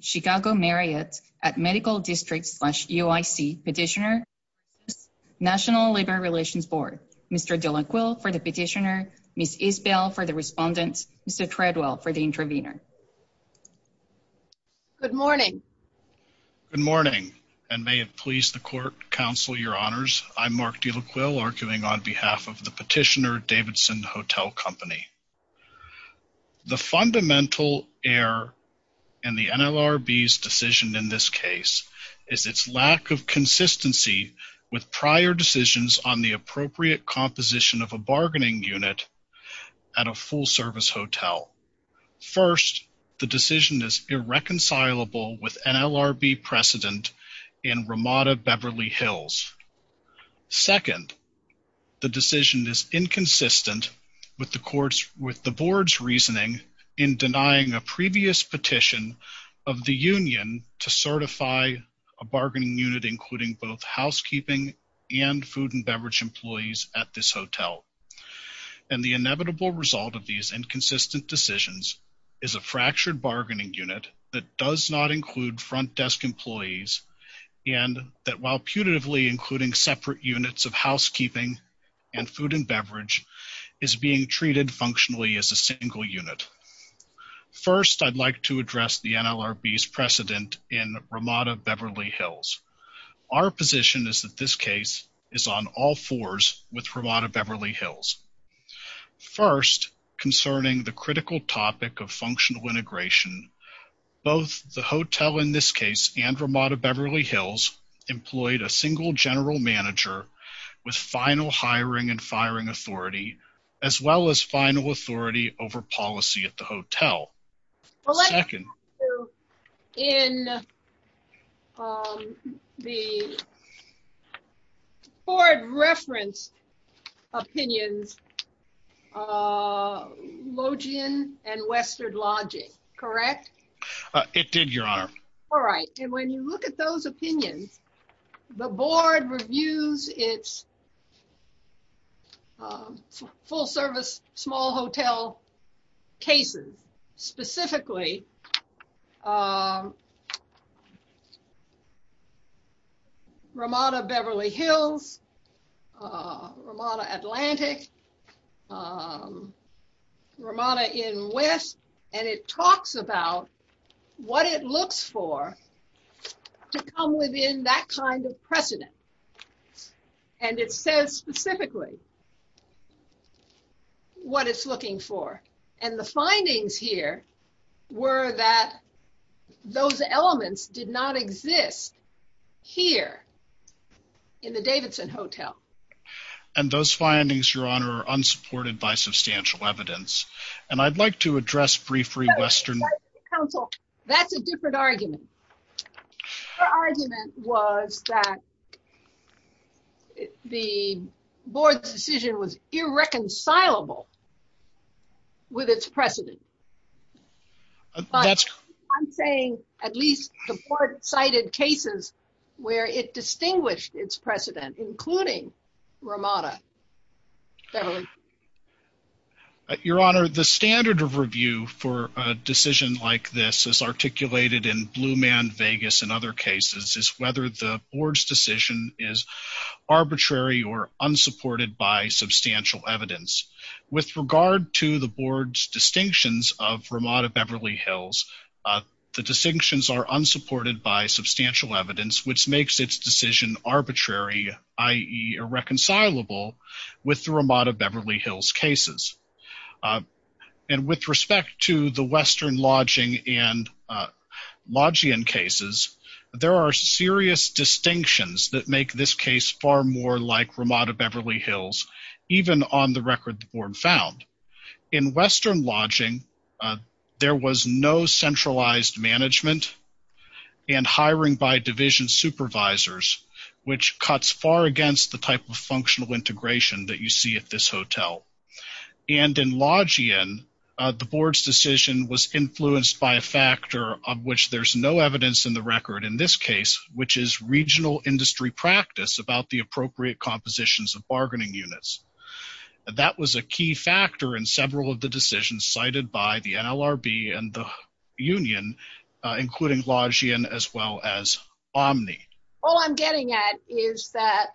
Chicago Marriott at Medical District slash UIC Petitioner, National Labor Relations Board Mr. Dylan Quill for the petitioner, Ms. Isbell for the respondent, Mr. Treadwell for the intervener. Good morning. Good morning, and may it please the court counsel your honors. I'm Mark Dylan Quill arguing on behalf of the petitioner Davidson Hotel Company. The fundamental error in the NLRB's decision in this case is its lack of consistency with prior decisions on the appropriate composition of a bargaining unit at a full service hotel. First, the decision is irreconcilable with NLRB precedent in Ramada Beverly Hills. Second, the decision is inconsistent with the board's reasoning in denying a previous petition of the union to certify a bargaining unit including both housekeeping and food and beverage employees at this hotel. And the inevitable result of these inconsistent decisions is a fractured bargaining unit that does not include front desk employees and that while putatively including separate units of housekeeping and food and beverage is being treated functionally as a single unit. First, I'd like to address the NLRB's precedent in Ramada Beverly Hills. Our position is that this case is on all fours with Ramada Beverly Hills. First, concerning the critical topic of functional integration, both the hotel in this case and Ramada Beverly Hills employed a single general manager with final hiring and firing authority, as well as final authority over policy at the hotel. Second. In the board reference opinions, Logian and Western Logic, correct? It did, your honor. All right. And when you look at those opinions, the board reviews its full service small hotel cases, specifically Ramada Beverly Hills, Ramada Atlantic, Ramada in West. And it talks about what it looks for to come within that kind of precedent. And it says specifically what it's looking for. And the findings here were that those elements did not exist here in the Davidson Hotel. And those findings, your honor, are unsupported by substantial evidence. And I'd like to address briefly Western. That's a different argument. Argument was that the board's decision was irreconcilable. With its precedent. I'm saying at least the board cited cases where it distinguished its precedent, including Ramada. Your honor, the standard of review for a decision like this is articulated in Blue Man Vegas and other cases is whether the board's decision is arbitrary or unsupported by substantial evidence with regard to the board's distinctions of Ramada Beverly Hills. The distinctions are unsupported by substantial evidence, which makes its decision arbitrary, i.e. irreconcilable with the Ramada Beverly Hills cases. And with respect to the Western lodging and lodging cases, there are serious distinctions that make this case far more like Ramada Beverly Hills, even on the record the board found. In Western lodging, there was no centralized management and hiring by division supervisors, which cuts far against the type of functional integration that you see at this hotel. And in lodging, the board's decision was influenced by a factor of which there's no evidence in the record in this case, which is regional industry practice about the appropriate compositions of bargaining units. That was a key factor in several of the decisions cited by the NLRB and the union, including lodging as well as Omni. All I'm getting at is that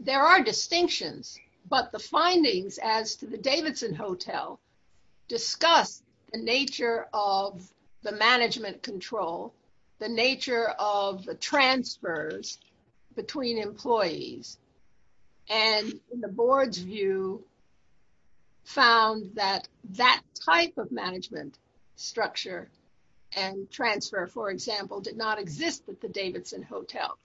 there are distinctions, but the findings as to the Davidson Hotel discuss the nature of the management control, the nature of the transfers between employees, and the board's view found that that type of management structure and transfer, for example, did not exist at the Davidson Hotel.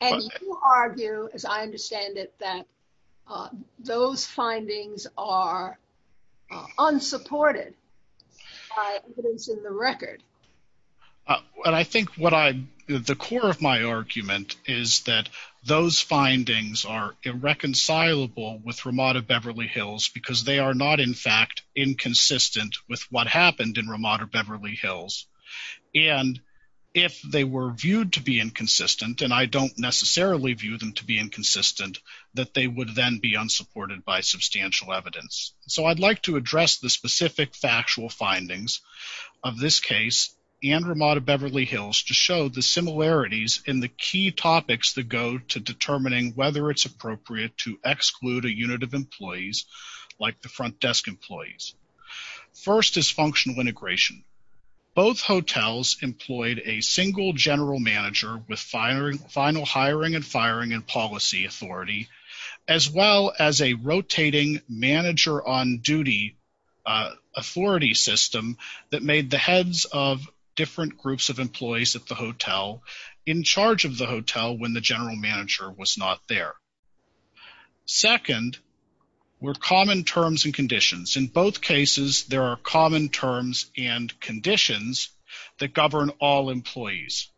And you argue, as I understand it, that those findings are unsupported evidence in the record. I think the core of my argument is that those findings are irreconcilable with Ramada Beverly Hills because they are not, in fact, inconsistent with what happened in Ramada Beverly Hills. And if they were viewed to be inconsistent, and I don't necessarily view them to be inconsistent, that they would then be unsupported by substantial evidence. So I'd like to address the specific factual findings of this case and Ramada Beverly Hills to show the similarities in the key topics that go to determining whether it's appropriate to exclude a unit of employees, like the front desk employees. First is functional integration. Both hotels employed a single general manager with final hiring and firing and policy authority, as well as a rotating manager on duty authority system that made the heads of different groups of employees at the hotel in charge of the hotel when the general manager was not there. Second were common terms and conditions. In both cases, there are common terms and conditions that govern all employees.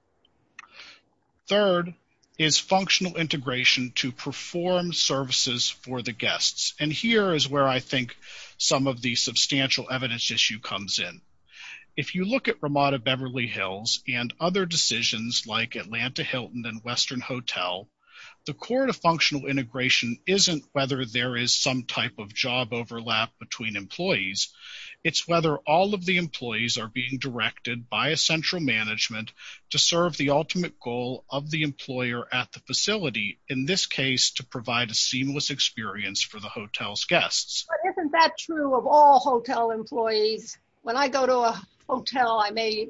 Third is functional integration to perform services for the guests. And here is where I think some of the substantial evidence issue comes in. If you look at Ramada Beverly Hills and other decisions like Atlanta Hilton and Western Hotel, the core of functional integration isn't whether there is some type of job overlap between employees. It's whether all of the employees are being directed by a central management to serve the ultimate goal of the employer at the facility, in this case, to provide a seamless experience for the hotel's guests. But isn't that true of all hotel employees? When I go to a hotel, I may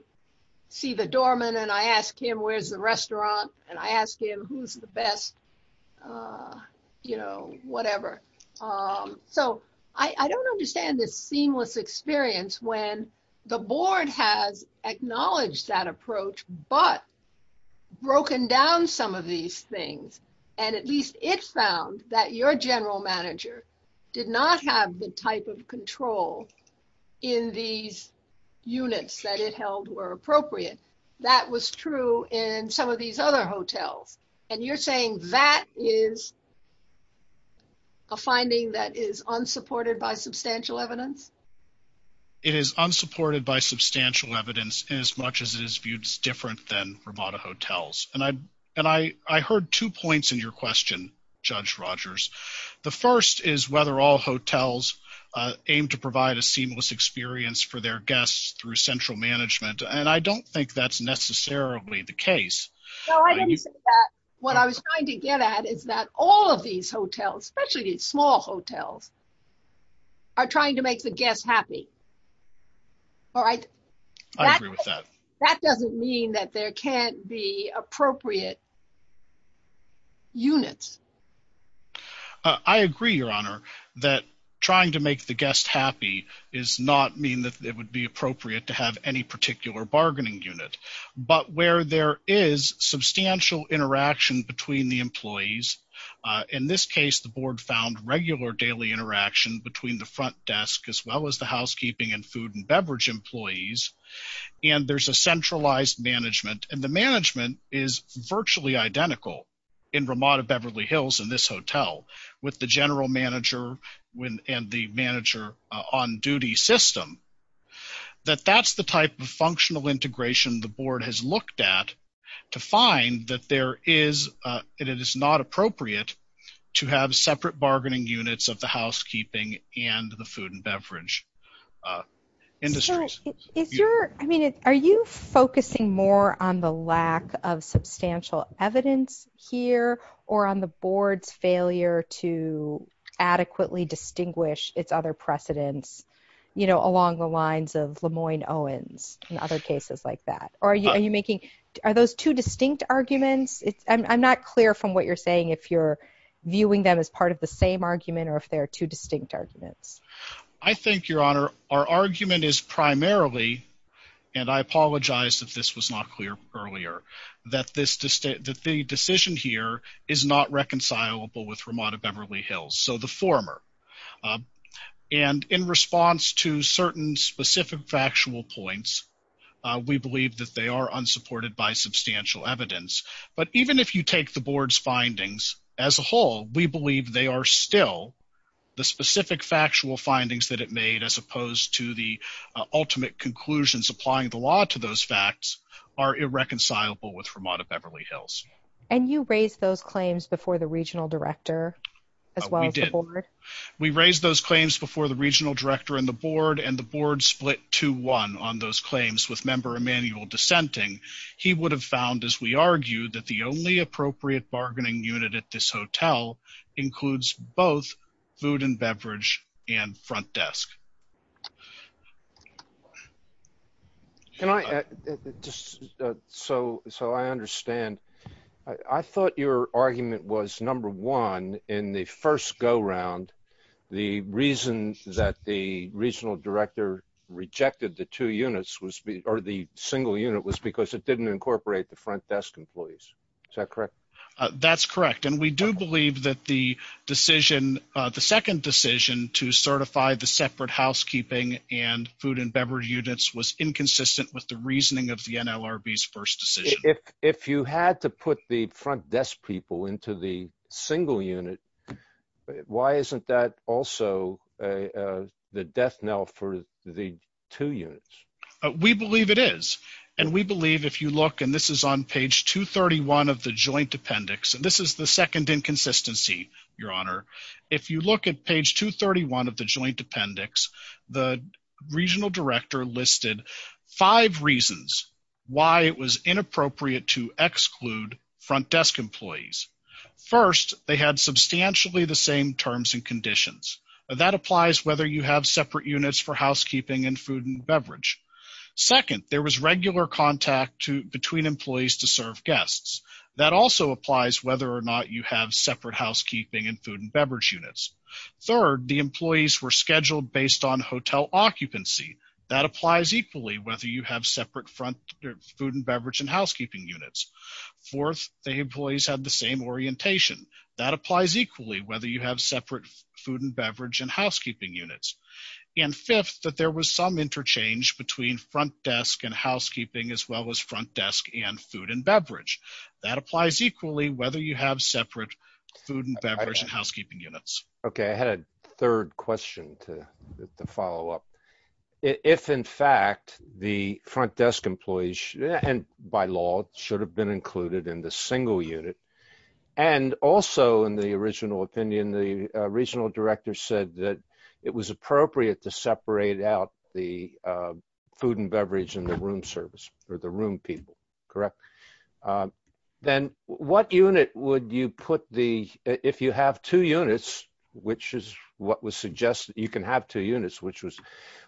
see the doorman and I ask him, where's the restaurant? And I ask him, who's the best? You know, whatever. So I don't understand this seamless experience when the board has acknowledged that approach, but broken down some of these things. And at least it found that your general manager did not have the type of control in these units that it held were appropriate. That was true in some of these other hotels. And you're saying that is a finding that is unsupported by substantial evidence? It is unsupported by substantial evidence as much as it is viewed as different than Ramada hotels. And I heard two points in your question, Judge Rogers. The first is whether all hotels aim to provide a seamless experience for their guests through central management. And I don't think that's necessarily the case. What I was trying to get at is that all of these hotels, especially small hotels, are trying to make the guests happy. All right. I agree with that. That doesn't mean that there can't be appropriate units. I agree, Your Honor, that trying to make the guests happy does not mean that it would be appropriate to have any particular bargaining unit. But where there is substantial interaction between the employees, in this case, the board found regular daily interaction between the front desk as well as the housekeeping and food and beverage employees. And there's a centralized management. And the management is virtually identical in Ramada Beverly Hills in this hotel with the general manager and the manager on duty system. That that's the type of functional integration the board has looked at to find that it is not appropriate to have separate bargaining units of the housekeeping and the food and beverage industries. I mean, are you focusing more on the lack of substantial evidence here or on the board's failure to adequately distinguish its other precedents, you know, along the lines of Lemoyne Owens and other cases like that? Are you making are those two distinct arguments? I'm not clear from what you're saying if you're viewing them as part of the same argument or if there are two distinct arguments. I think, Your Honor, our argument is primarily, and I apologize if this was not clear earlier, that the decision here is not reconcilable with Ramada Beverly Hills, so the former. And in response to certain specific factual points, we believe that they are unsupported by substantial evidence. But even if you take the board's findings as a whole, we believe they are still the specific factual findings that it made as opposed to the ultimate conclusions applying the law to those facts are irreconcilable with Ramada Beverly Hills. And you raised those claims before the regional director as well as the board? We raised those claims before the regional director and the board and the board split 2-1 on those claims with member Emanuel dissenting. He would have found, as we argued, that the only appropriate bargaining unit at this hotel includes both food and beverage and front desk. So I understand. I thought your argument was, number one, in the first go-round, the reason that the regional director rejected the two units or the single unit was because it didn't incorporate the front desk employees. Is that correct? That's correct. And we do believe that the decision, the second decision to certify the separate housekeeping and food and beverage units was inconsistent with the reasoning of the NLRB's first decision. If you had to put the front desk people into the single unit, why isn't that also the death knell for the two units? We believe it is. And we believe, if you look, and this is on page 231 of the joint appendix, and this is the second inconsistency, your honor. If you look at page 231 of the joint appendix, the regional director listed five reasons why it was inappropriate to exclude front desk employees. First, they had substantially the same terms and conditions. That applies whether you have separate units for housekeeping and food and beverage. Second, there was regular contact between employees to serve guests. That also applies whether or not you have separate housekeeping and food and beverage units. Third, the employees were scheduled based on hotel occupancy. That applies equally whether you have separate front food and beverage and housekeeping units. Fourth, the employees had the same orientation. That applies equally whether you have separate food and beverage and housekeeping units. And fifth, that there was some interchange between front desk and housekeeping as well as front desk and food and beverage. That applies equally whether you have separate food and beverage and housekeeping units. Okay, I had a third question to follow up. If, in fact, the front desk employees, and by law, should have been included in the single unit, and also, in the original opinion, the regional director said that it was appropriate to separate out the food and beverage and the room service, or the room people, correct? Then what unit would you put the, if you have two units, which is what was suggested, you can have two units, which was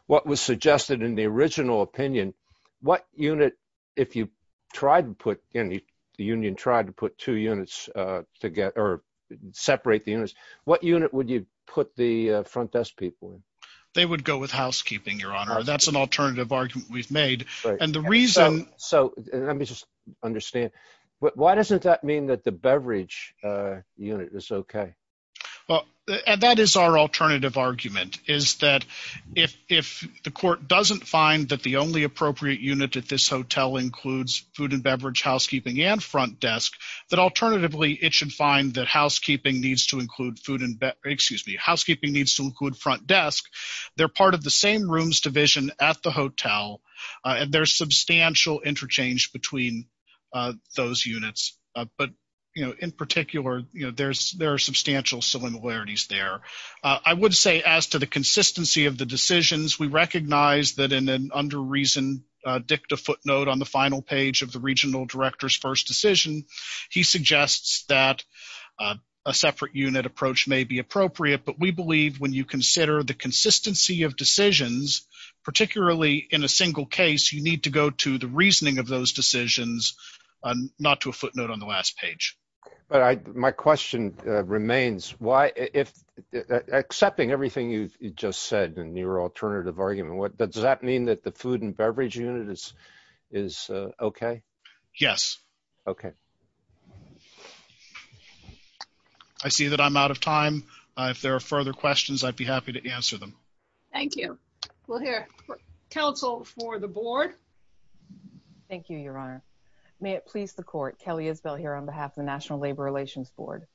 what was suggested in the original opinion, what unit, if you tried to put in, the union tried to put two units together or separate the units, what unit would you put the front desk people in? They would go with housekeeping, Your Honor. That's an alternative argument we've made. And the reason... Let me just understand. Why doesn't that mean that the beverage unit is okay? That is our alternative argument, is that if the court doesn't find that the only appropriate unit at this hotel includes food and beverage, housekeeping, and front desk, that alternatively, it should find that housekeeping needs to include food and beverage, excuse me, housekeeping needs to include front desk. They're part of the same rooms division at the hotel, and there's substantial interchange between those units. But in particular, there are substantial similarities there. I would say as to the consistency of the decisions, we recognize that in an under reason dicta footnote on the final page of the regional director's first decision, he suggests that a separate unit approach may be appropriate. But we believe when you consider the consistency of decisions, particularly in a single case, you need to go to the reasoning of those decisions, not to a footnote on the last page. But my question remains, accepting everything you've just said in your alternative argument, does that mean that the food and beverage unit is okay? Yes. Okay. I see that I'm out of time. If there are further questions, I'd be happy to answer them. Thank you. We'll hear counsel for the board. Thank you, Your Honor. May it please the court, Kelly Isbell here on behalf of the National Labor Relations Board.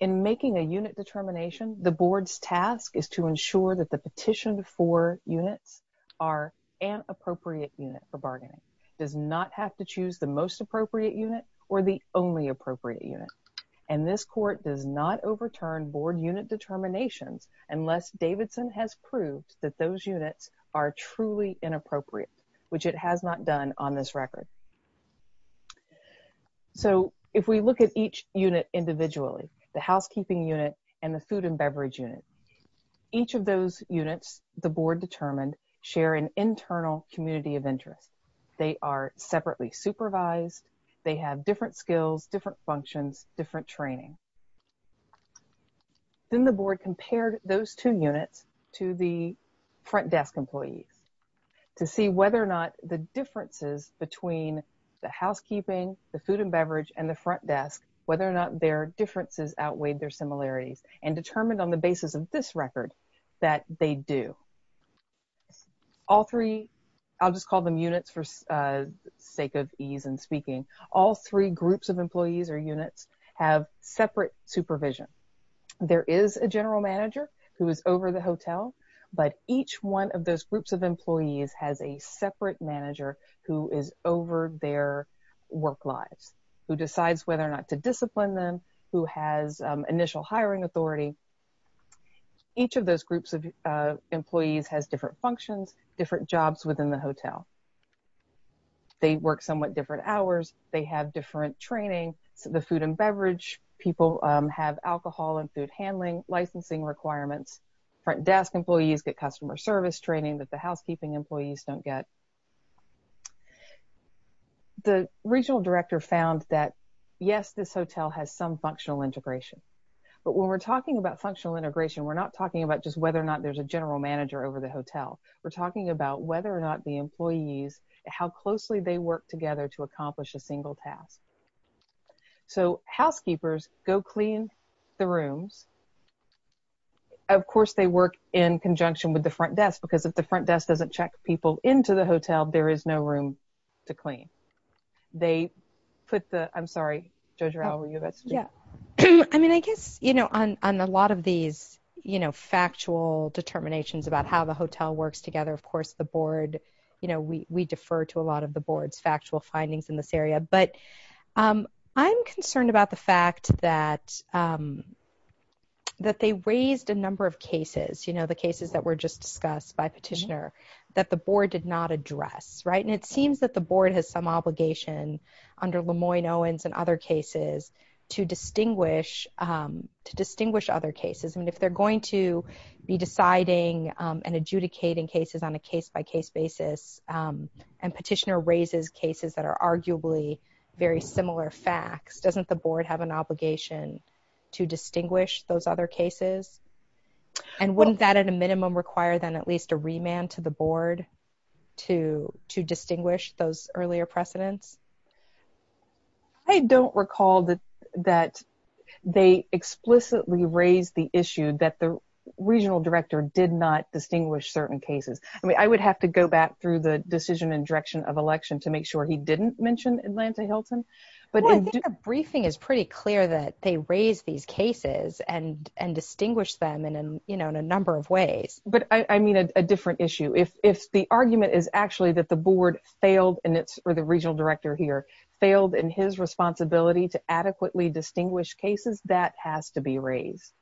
In making a unit determination, the board's task is to ensure that the petition for units are an appropriate unit for bargaining. The board does not have to choose the most appropriate unit or the only appropriate unit. And this court does not overturn board unit determinations unless Davidson has proved that those units are truly inappropriate, which it has not done on this record. So if we look at each unit individually, the housekeeping unit and the food and beverage unit, each of those units, the board determined, share an internal community of interest. They are separately supervised. They have different skills, different functions, different training. Then the board compared those two units to the front desk employees to see whether or not the differences between the housekeeping, the food and beverage, and the front desk, whether or not their differences outweighed their similarities and determined on the basis of this record that they do. All three, I'll just call them units for sake of ease and speaking, all three groups of employees or units have separate supervision. There is a general manager who is over the hotel, but each one of those groups of employees has a separate manager who is over their work lives, who decides whether or not to discipline them, who has initial hiring authority. Each of those groups of employees has different functions, different jobs within the hotel. They work somewhat different hours. They have different training. So the food and beverage people have alcohol and food handling, licensing requirements, front desk employees get customer service training that the housekeeping employees don't get. The regional director found that yes, this hotel has some functional integration, but when we're talking about functional integration, we're not talking about just whether or not there's a general manager over the hotel. We're talking about whether or not the employees, how closely they work together to accomplish a single task. So housekeepers go clean the rooms. Of course, they work in conjunction with the front desk because if the front desk doesn't check people into the hotel, there is no room to clean. They put the, I'm sorry, JoJo, were you about to speak? I mean, I guess, you know, on a lot of these, you know, factual determinations about how the hotel works together, of course, the board, you know, we defer to a lot of the board's factual findings in this area. I'm concerned about the fact that they raised a number of cases, you know, the cases that were just discussed by Petitioner that the board did not address, right? And it seems that the board has some obligation under Lemoyne-Owens and other cases to distinguish other cases. I mean, if they're going to be deciding and adjudicating cases on a case-by-case basis and Petitioner raises cases that are arguably very similar facts, doesn't the board have an obligation to distinguish those other cases? And wouldn't that at a minimum require then at least a remand to the board to distinguish those earlier precedents? I don't recall that they explicitly raised the issue that the regional director did not distinguish certain cases. I mean, I would have to go back through the decision and direction of election to make sure he didn't mention Atlanta-Hilton. Well, I think the briefing is pretty clear that they raised these cases and distinguished them, you know, in a number of ways. But I mean a different issue. If the argument is actually that the board failed, or the regional director here, failed in his responsibility to adequately distinguish cases, that has to be raised.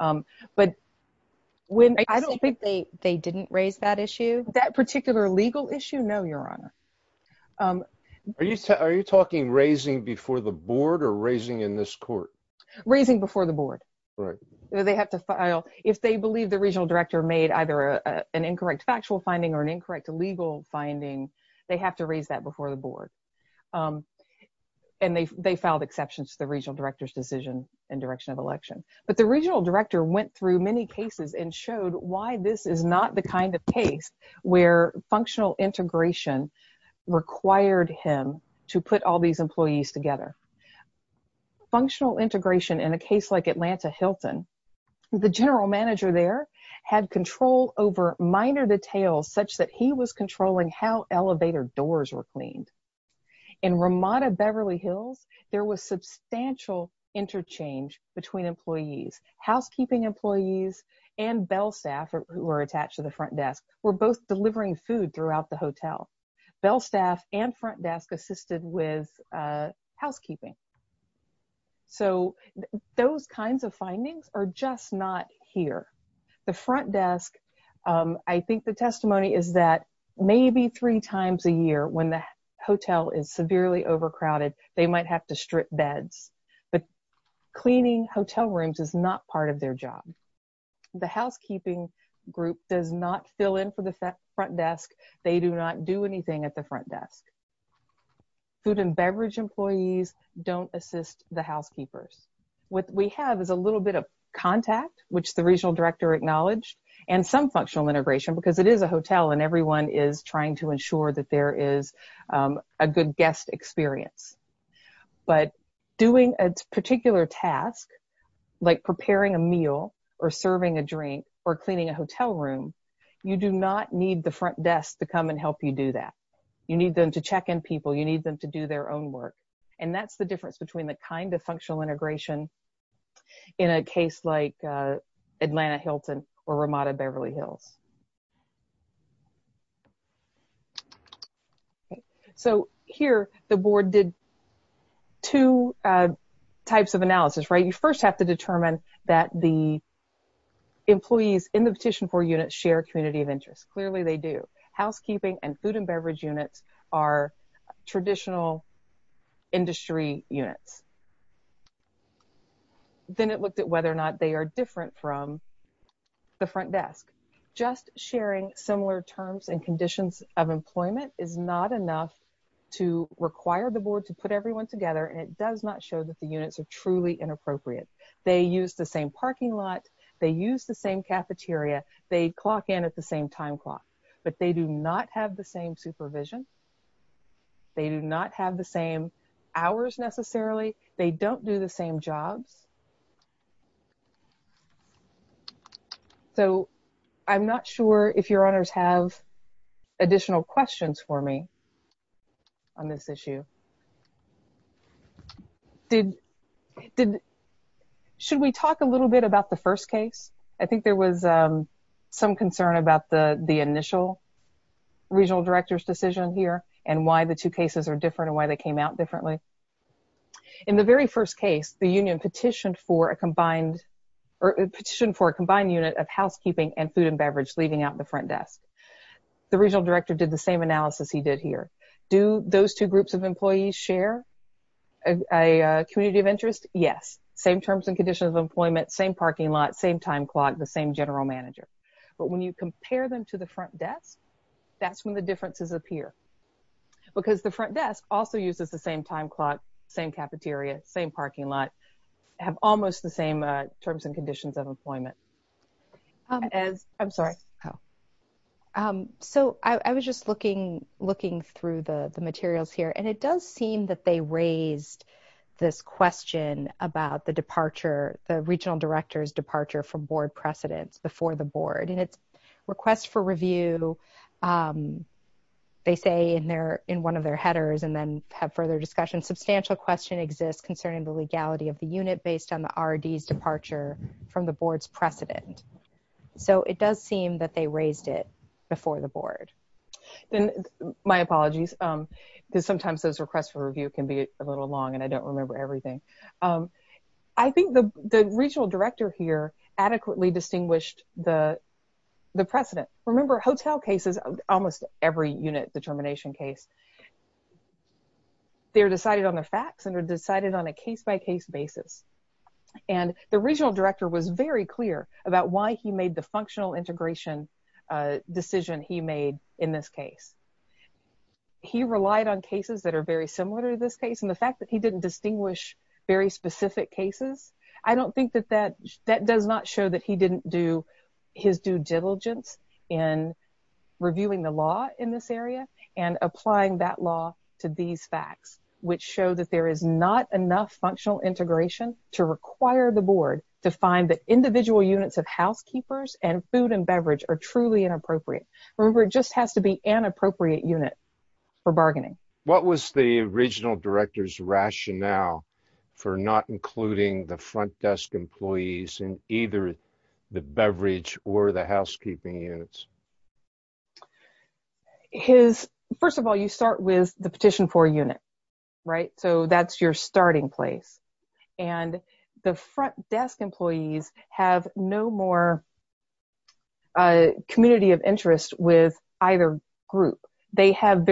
I don't think they didn't raise that issue. That particular legal issue? No, Your Honor. Are you talking raising before the board or raising in this court? Raising before the board. If they believe the regional director made either an incorrect factual finding or an incorrect legal finding, they have to raise that before the board. And they filed exceptions to the regional director's decision and direction of election. But the regional director went through many cases and showed why this is not the kind of case where functional integration required him to put all these employees together. Functional integration in a case like Atlanta-Hilton, the general manager there had control over minor details such that he was controlling how elevator doors were cleaned. In Ramada-Beverly Hills, there was substantial interchange between employees. Housekeeping employees and bell staff who were attached to the front desk were both delivering food throughout the hotel. Bell staff and front desk assisted with housekeeping. So those kinds of findings are just not here. The front desk, I think the testimony is that maybe three times a year when the hotel is severely overcrowded, they might have to strip beds. But cleaning hotel rooms is not part of their job. The housekeeping group does not fill in for the front desk. They do not do anything at the front desk. Food and beverage employees don't assist the housekeepers. What we have is a little bit of contact, which the regional director acknowledged, and some functional integration because it is a hotel and everyone is trying to ensure that there is a good guest experience. But doing a particular task, like preparing a meal or serving a drink or cleaning a hotel room, you do not need the front desk to come and help you do that. You need them to check in people. You need them to do their own work. And that's the difference between the kind of functional integration in a case like Atlanta-Hilton or Ramada-Beverly Hills. So here, the board did two types of analysis, right? You first have to determine that the employees in the petition for units share a community of interest. Clearly, they do. Housekeeping and food and beverage units are traditional industry units. Then it looked at whether or not they are different from the front desk. Just sharing similar terms and conditions of employment is not enough to require the board to put everyone together and it does not show that the units are truly inappropriate. They use the same parking lot. They use the same cafeteria. They clock in at the same time clock. But they do not have the same supervision. They do not have the same hours necessarily. They don't do the same jobs. So I'm not sure if your honors have additional questions for me on this issue. Should we talk a little bit about the first case? I think there was some concern about the initial regional director's decision here and why the two cases are different and why they came out differently. In the very first case, the union petitioned for a combined unit of housekeeping and food and beverage leaving out the front desk. The regional director did the same analysis he did here. Do those two groups of employees share a community of interest? Yes. Same terms and conditions of employment, same parking lot, same time clock, the same general manager. But when you compare them to the front desk, that's when the differences appear. Because the front desk also uses the same time clock, same cafeteria, same parking lot, have almost the same terms and conditions of employment. So I was just looking through the materials here. And it does seem that they raised this question about the regional director's departure from board precedence before the board. In its request for review, they say in one of their headers and then have further discussion, substantial question exists concerning the legality of the unit based on the R&D's departure from the board's precedent. So it does seem that they raised it before the board. My apologies. Sometimes those requests for review can be a little long and I don't remember everything. I think the regional director here adequately distinguished the precedent. Remember hotel cases, almost every unit determination case, they're decided on the facts and are decided on a case-by-case basis. And the regional director was very clear about why he made the functional integration decision he made in this case. He relied on cases that are very similar to this case and the fact that he didn't distinguish very specific cases, I don't think that that does not show that he didn't do his due diligence in reviewing the law in this area and applying that law to these facts, which show that there is not enough functional integration to require the board to find that individual units of housekeepers and food and beverage are truly inappropriate. Remember, it just has to be an appropriate unit for bargaining. What was the regional director's rationale for not including the front desk employees in either the beverage or the housekeeping units? First of all, you start with the petition for unit, right? So that's your starting place. And the front desk employees have no more community of interest with either group. They have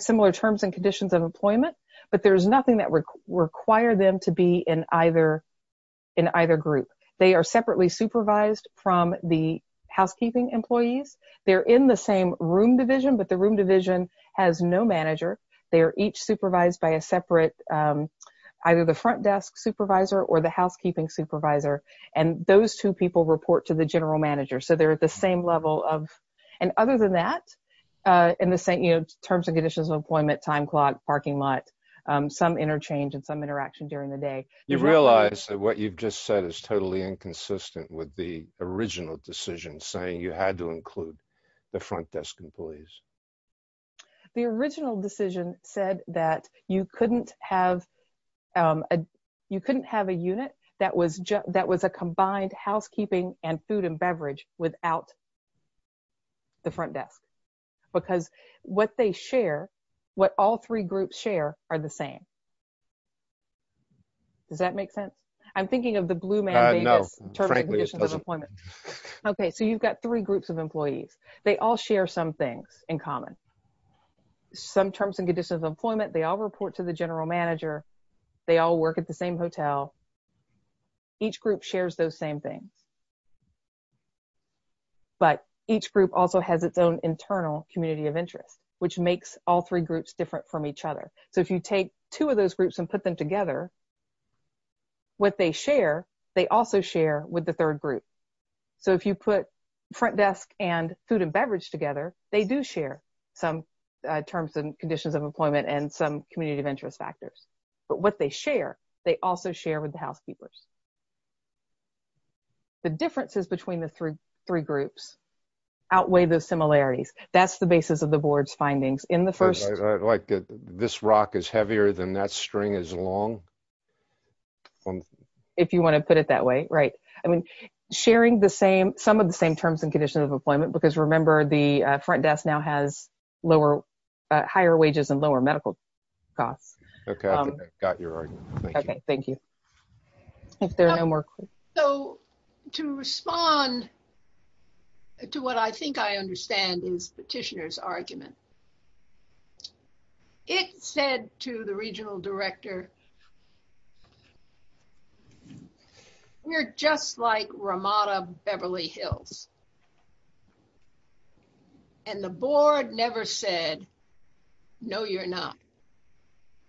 similar terms and conditions of employment, but there's nothing that would require them to be in either group. They are separately supervised from the housekeeping employees. They're in the same room division, but the room division has no manager. They are each supervised by a separate, either the front desk supervisor or the housekeeping supervisor. And those two people report to the general manager. So they're at the same level of, and other than that, in the terms and conditions of employment, time clock, parking lot, some interchange and some interaction during the day. You realize that what you've just said is totally inconsistent with the original decision saying you had to include the front desk employees. The original decision said that you couldn't have a unit that was a combined housekeeping and food and beverage without the front desk. Because what they share, what all three groups share, are the same. Does that make sense? I'm thinking of the Blue Man Davis terms and conditions of employment. Okay, so you've got three groups of employees. They all share some things in common. Some terms and conditions of employment, they all report to the general manager. They all work at the same hotel. Each group shares those same things. But each group also has its own internal community of interest, which makes all three groups different from each other. So if you take two of those groups and put them together, what they share, they also share with the third group. So if you put front desk and food and beverage together, they do share some terms and conditions of employment and some community of interest factors. But what they share, they also share with the housekeepers. The differences between the three groups outweigh the similarities. That's the basis of the board's findings. Like this rock is heavier than that string is long? If you want to put it that way, right. I mean, sharing some of the same terms and conditions of employment. Because remember, the front desk now has higher wages and lower medical costs. Okay, I got your argument. Okay, thank you. So to respond to what I think I understand is Petitioner's argument. It said to the regional director. We're just like Ramada Beverly Hills. And the board never said, no, you're not.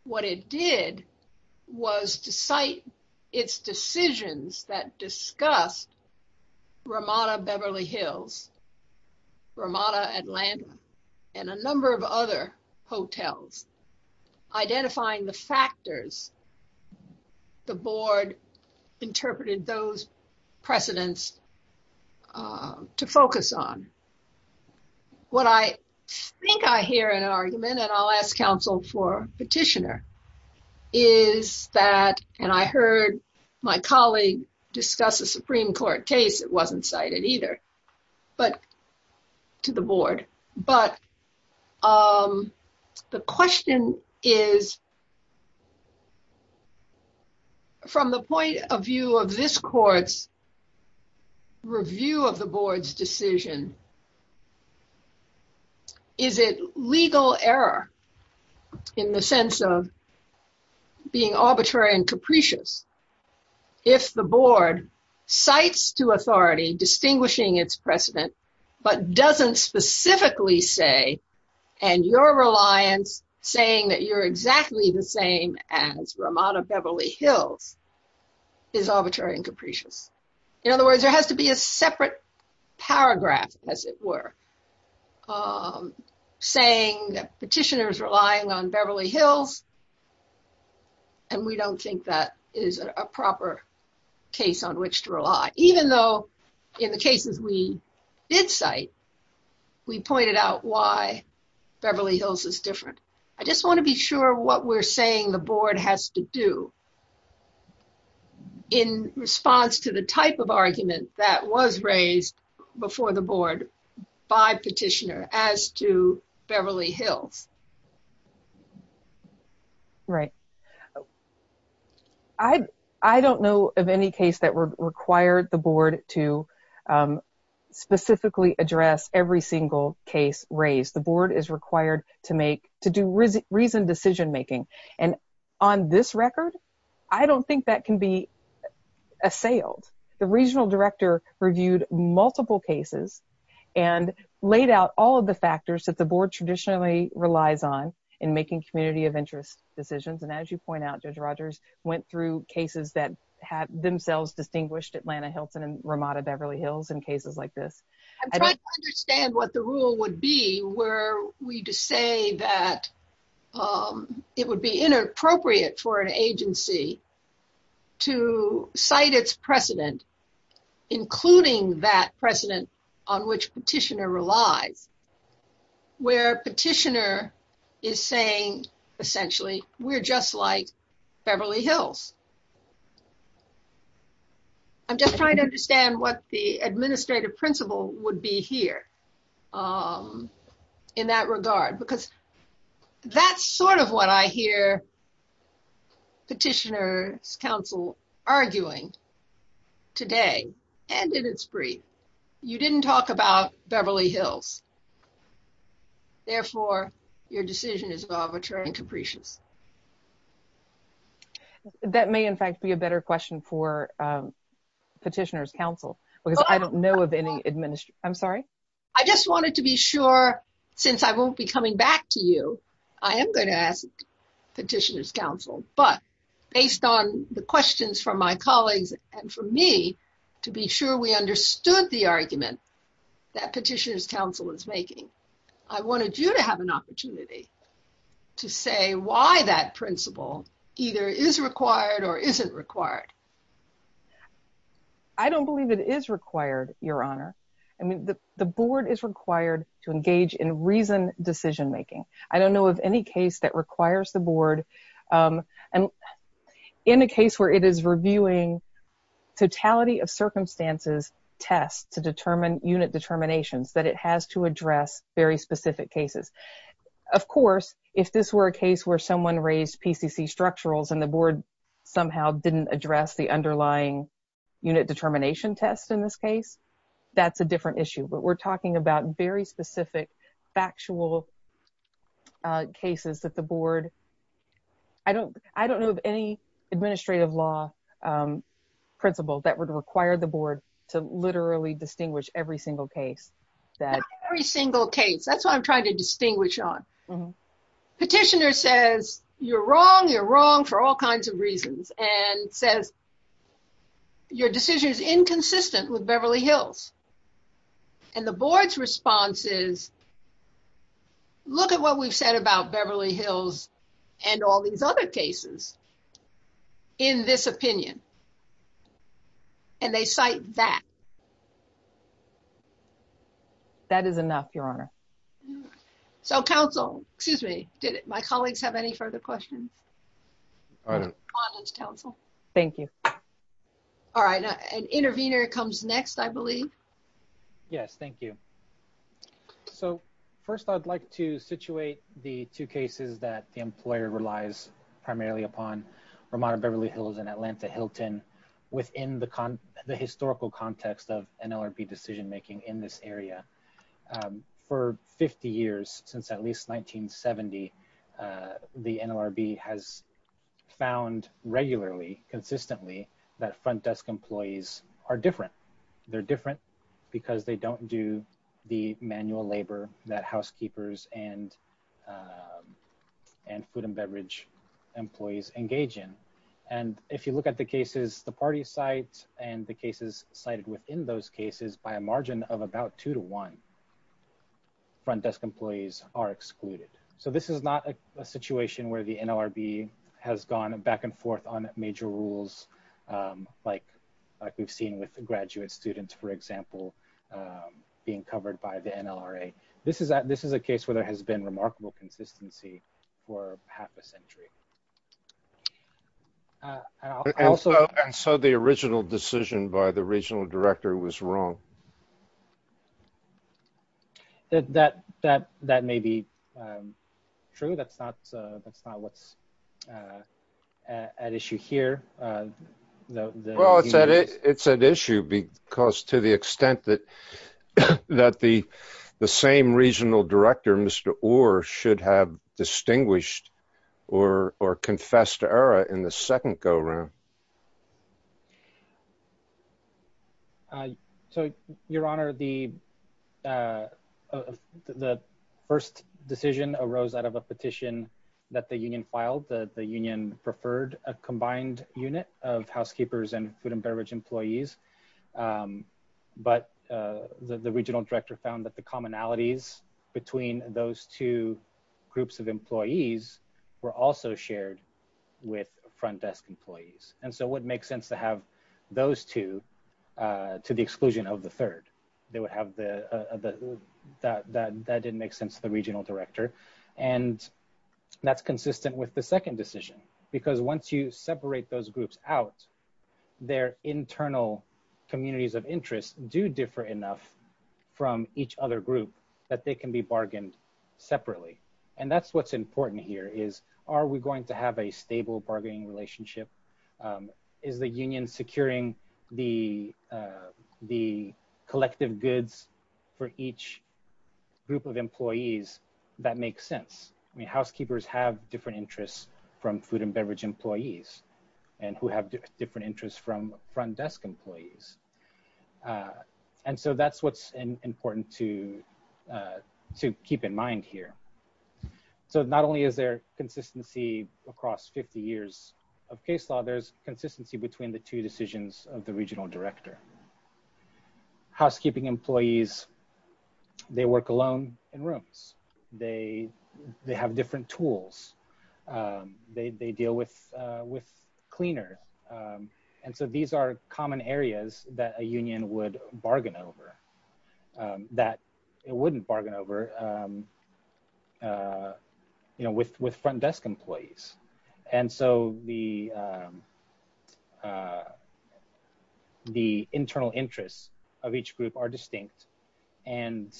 What it did was to cite its decisions that discussed Ramada Beverly Hills, Ramada Atlanta, and a number of other hotels. Identifying the factors the board interpreted those precedents to focus on. What I think I hear an argument and I'll ask counsel for Petitioner. Is that and I heard my colleague discuss a Supreme Court case. It wasn't cited either, but to the board, but the question is. From the point of view of this court's review of the board's decision. Is it legal error. In the sense of being arbitrary and capricious. If the board sites to authority distinguishing its precedent, but doesn't specifically say and your reliance, saying that you're exactly the same as Ramada Beverly Hills. Is arbitrary and capricious. In other words, there has to be a separate paragraph, as it were. Saying petitioners relying on Beverly Hills. And we don't think that is a proper case on which to rely, even though in the cases we did site we pointed out why Beverly Hills is different. I just want to be sure what we're saying the board has to do. In response to the type of argument that was raised before the board by petitioner as to Beverly Hills. Right. I, I don't know of any case that were required the board to Specifically address every single case raised the board is required to make to do reason reason decision making and on this record. I don't think that can be And as you point out, Judge Rogers went through cases that have themselves distinguished Atlanta Hilton and Ramada Beverly Hills and cases like this. Understand what the rule would be where we just say that It would be inappropriate for an agency. To cite its precedent, including that precedent on which petitioner relies. Where petitioner is saying, essentially, we're just like Beverly Hills. I'm just trying to understand what the administrative principle would be here. In that regard, because that's sort of what I hear. Petitioners Council arguing today and in its brief, you didn't talk about Beverly Hills. Therefore, your decision is arbitrary and capricious That may in fact be a better question for Petitioners Council, but based on the questions from my colleagues and for me to be sure we understood the argument that petitioners council is making. I wanted you to have an opportunity to say why that principle either is required or isn't required. I don't believe it is required, Your Honor. I mean, the, the board is required to engage in reason decision making. I don't know of any case that requires the board. And in a case where it is reviewing totality of circumstances test to determine unit determinations that it has to address very specific cases. Of course, if this were a case where someone raised PCC structurals and the board somehow didn't address the underlying unit determination test. In this case, that's a different issue, but we're talking about very specific factual Cases that the board. I don't, I don't know of any administrative law. Principle that would require the board to literally distinguish every single case that Every single case. That's what I'm trying to distinguish on Petitioner says you're wrong. You're wrong for all kinds of reasons and says Your decision is inconsistent with Beverly Hills. And the board's responses. Look at what we've said about Beverly Hills and all these other cases. In this opinion. And they cite that That is enough, Your Honor. So Council, excuse me, did my colleagues have any further questions. Council. Thank you. All right, an intervener comes next, I believe. Yes, thank you. So first I'd like to situate the two cases that the employer relies primarily upon Ramada Beverly Hills and Atlanta Hilton within the historical context of NLRB decision making in this area. For 50 years since at least 1970 The NLRB has found regularly consistently that front desk employees are different. They're different because they don't do the manual labor that housekeepers and And food and beverage employees engage in. And if you look at the cases, the party sites and the cases cited within those cases by a margin of about two to one. Front desk employees are excluded. So this is not a situation where the NLRB has gone back and forth on major rules like like we've seen with the graduate students, for example. Being covered by the NLRA. This is that this is a case where there has been remarkable consistency for half a century. So the original decision by the regional director was wrong. That, that, that may be True. That's not, that's not what's An issue here. Well, it's an issue because to the extent that That the the same regional director, Mr. Orr should have distinguished or or confessed to error in the second go round. So, Your Honor, the The first decision arose out of a petition that the union filed that the union preferred a combined unit of housekeepers and food and beverage employees. But the regional director found that the commonalities between those two groups of employees were also shared with front desk employees. And so what makes sense to have those two To the exclusion of the third, they would have the that that didn't make sense to the regional director and That's consistent with the second decision because once you separate those groups out their internal communities of interest do differ enough From each other group that they can be bargained separately. And that's what's important here is, are we going to have a stable bargaining relationship. Is the union securing the the collective goods for each group of employees that makes sense. I mean, housekeepers have different interests from food and beverage employees and who have different interests from front desk employees. And so that's what's important to Keep in mind here. So not only is there consistency across 50 years of case law, there's consistency between the two decisions of the regional director. Housekeeping employees. They work alone in rooms, they, they have different tools. They deal with with cleaner. And so these are common areas that a union would bargain over That it wouldn't bargain over You know, with with front desk employees and so the The internal interests of each group are distinct and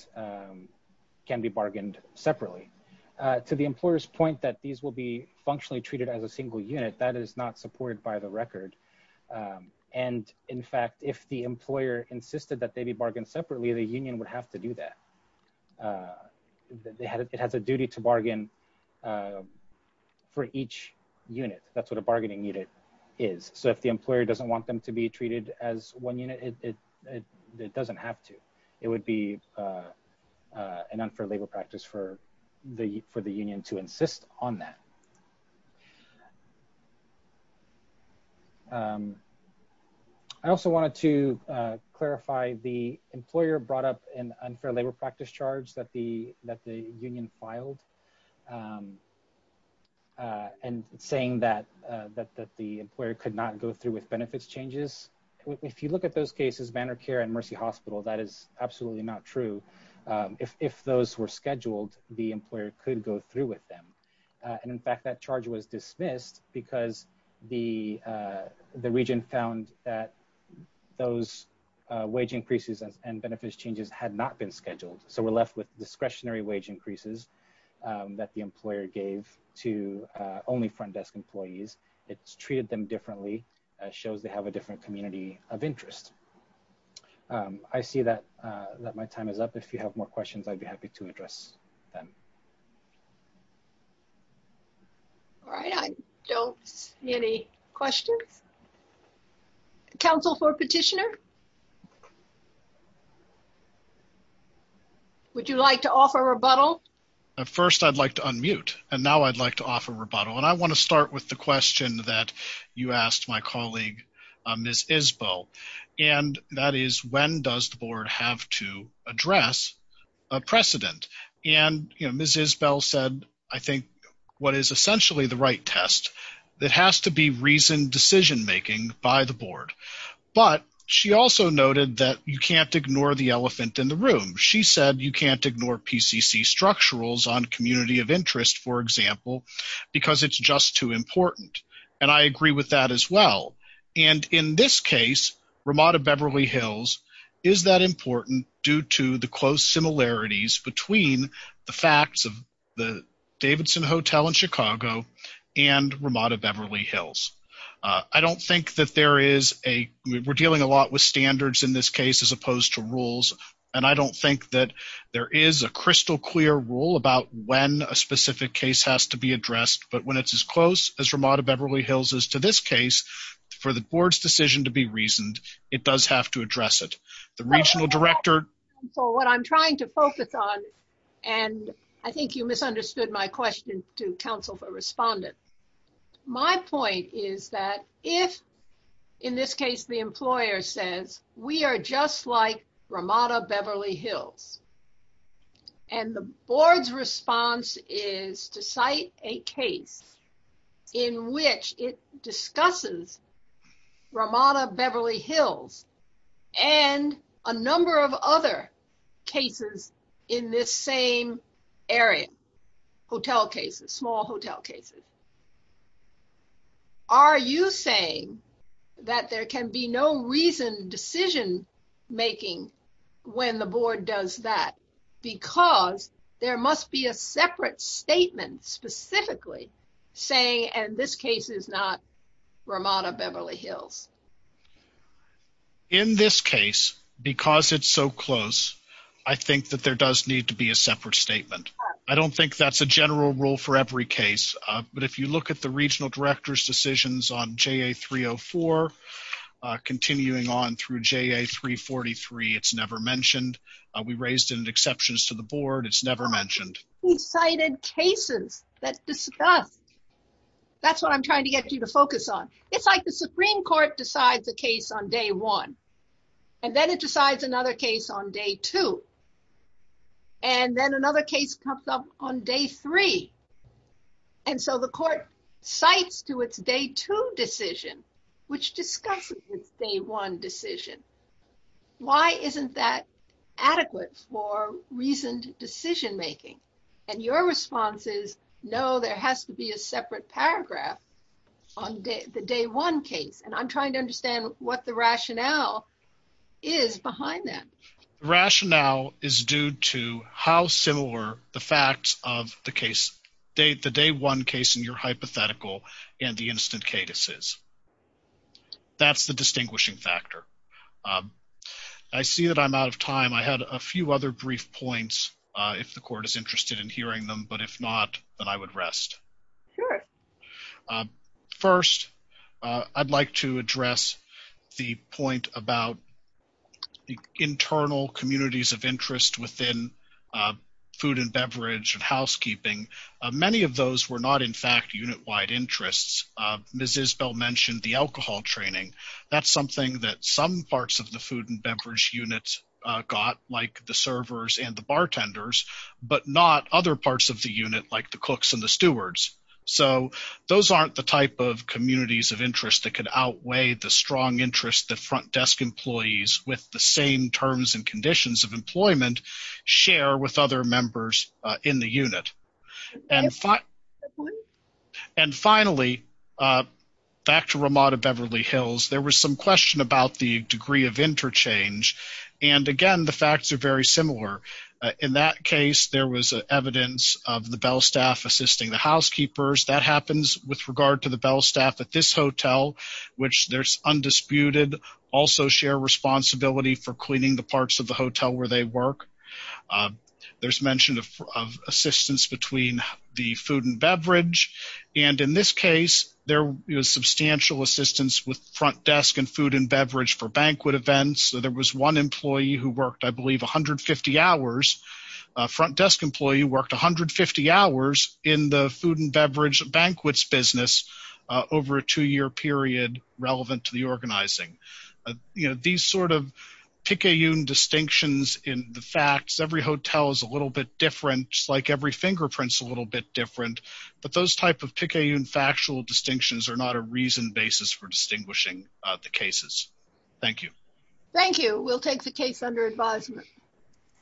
And in fact, if the employer insisted that they be bargained separately. The union would have to do that. It has a duty to bargain. For each unit. That's what a bargaining unit is. So if the employer doesn't want them to be treated as one unit. It doesn't have to, it would be An unfair labor practice for the for the union to insist on that. I also wanted to clarify the employer brought up an unfair labor practice charge that the that the union filed. And saying that that that the employer could not go through with benefits changes. If you look at those cases banner care and mercy hospital that is absolutely not true. If those were scheduled the employer could go through with them. And in fact, that charge was dismissed because the The region found that those wage increases and benefits changes had not been scheduled. So we're left with discretionary wage increases. That the employer gave to only front desk employees. It's treated them differently shows they have a different community of interest. I see that that my time is up. If you have more questions, I'd be happy to address them. All right. I don't see any questions. Council for petitioner Would you like to offer rebuttal. First, I'd like to unmute and now I'd like to offer rebuttal. And I want to start with the question that you asked my colleague, Miss Isbell And that is when does the board have to address a precedent and you know Mrs Bell said, I think what is essentially the right test. That has to be reason decision making by the board, but she also noted that you can't ignore the elephant in the room. She said you can't ignore PCC structural on community of interest, for example. Because it's just too important. And I agree with that as well. And in this case, Ramada Beverly Hills. Is that important due to the close similarities between the facts of the Davidson Hotel in Chicago and Ramada Beverly Hills. I don't think that there is a we're dealing a lot with standards in this case, as opposed to rules. And I don't think that there is a crystal clear rule about when a specific case has to be addressed. But when it's as close as Ramada Beverly Hills is to this case for the board's decision to be reasoned, it does have to address it. The regional director So what I'm trying to focus on. And I think you misunderstood my question to counsel for respondents. My point is that if, in this case, the employer says we are just like Ramada Beverly Hills. And the board's response is to cite a case in which it discusses Ramada Beverly Hills and a number of other cases in this same area hotel cases small hotel cases. Are you saying that there can be no reason decision making when the board does that because there must be a separate statement specifically saying, and this case is not Ramada Beverly Hills. In this case, because it's so close. I think that there does need to be a separate statement. I don't think that's a general rule for every case. But if you look at the regional directors decisions on Jay 304 continuing on through Jay 343 it's never mentioned we raised an exceptions to the board. It's never mentioned Cited cases that discussed. That's what I'm trying to get you to focus on. It's like the Supreme Court decides the case on day one and then it decides another case on day two. And then another case comes up on day three. And so the court sites to its day to decision which discusses the one decision. Why isn't that adequate for reasoned decision making and your responses. No, there has to be a separate paragraph on the day one case. And I'm trying to understand what the rationale is behind that. Rationale is due to how similar the facts of the case date the day one case in your hypothetical and the instant cadences. That's the distinguishing factor. I see that I'm out of time. I had a few other brief points. If the court is interested in hearing them. But if not, then I would rest. First, I'd like to address the point about The internal communities of interest within food and beverage and housekeeping. Many of those were not in fact unit wide interests. Ms. Isbell mentioned the alcohol training. That's something that some parts of the food and beverage units got like the servers and the bartenders, but not other parts of the unit like the cooks and the stewards. So those aren't the type of communities of interest that could outweigh the strong interest the front desk employees with the same terms and conditions of employment share with other members in the unit. And finally, And finally, Back to Ramada Beverly Hills. There was some question about the degree of interchange. And again, the facts are very similar. In that case, there was evidence of the bell staff assisting the housekeepers that happens with regard to the bell staff at this hotel, which there's undisputed also share responsibility for cleaning the parts of the hotel where they work. There's mentioned assistance between the food and beverage. And in this case, there was substantial assistance with front desk and food and beverage for banquet events. So there was one employee who worked, I believe, 150 hours. A front desk employee worked 150 hours in the food and beverage banquets business over a two year period relevant to the organizing. You know, these sort of picayune distinctions in the facts. Every hotel is a little bit different, like every fingerprints, a little bit different, but those type of picayune factual distinctions are not a reason basis for distinguishing the cases. Thank you. Thank you. We'll take the case under advisement.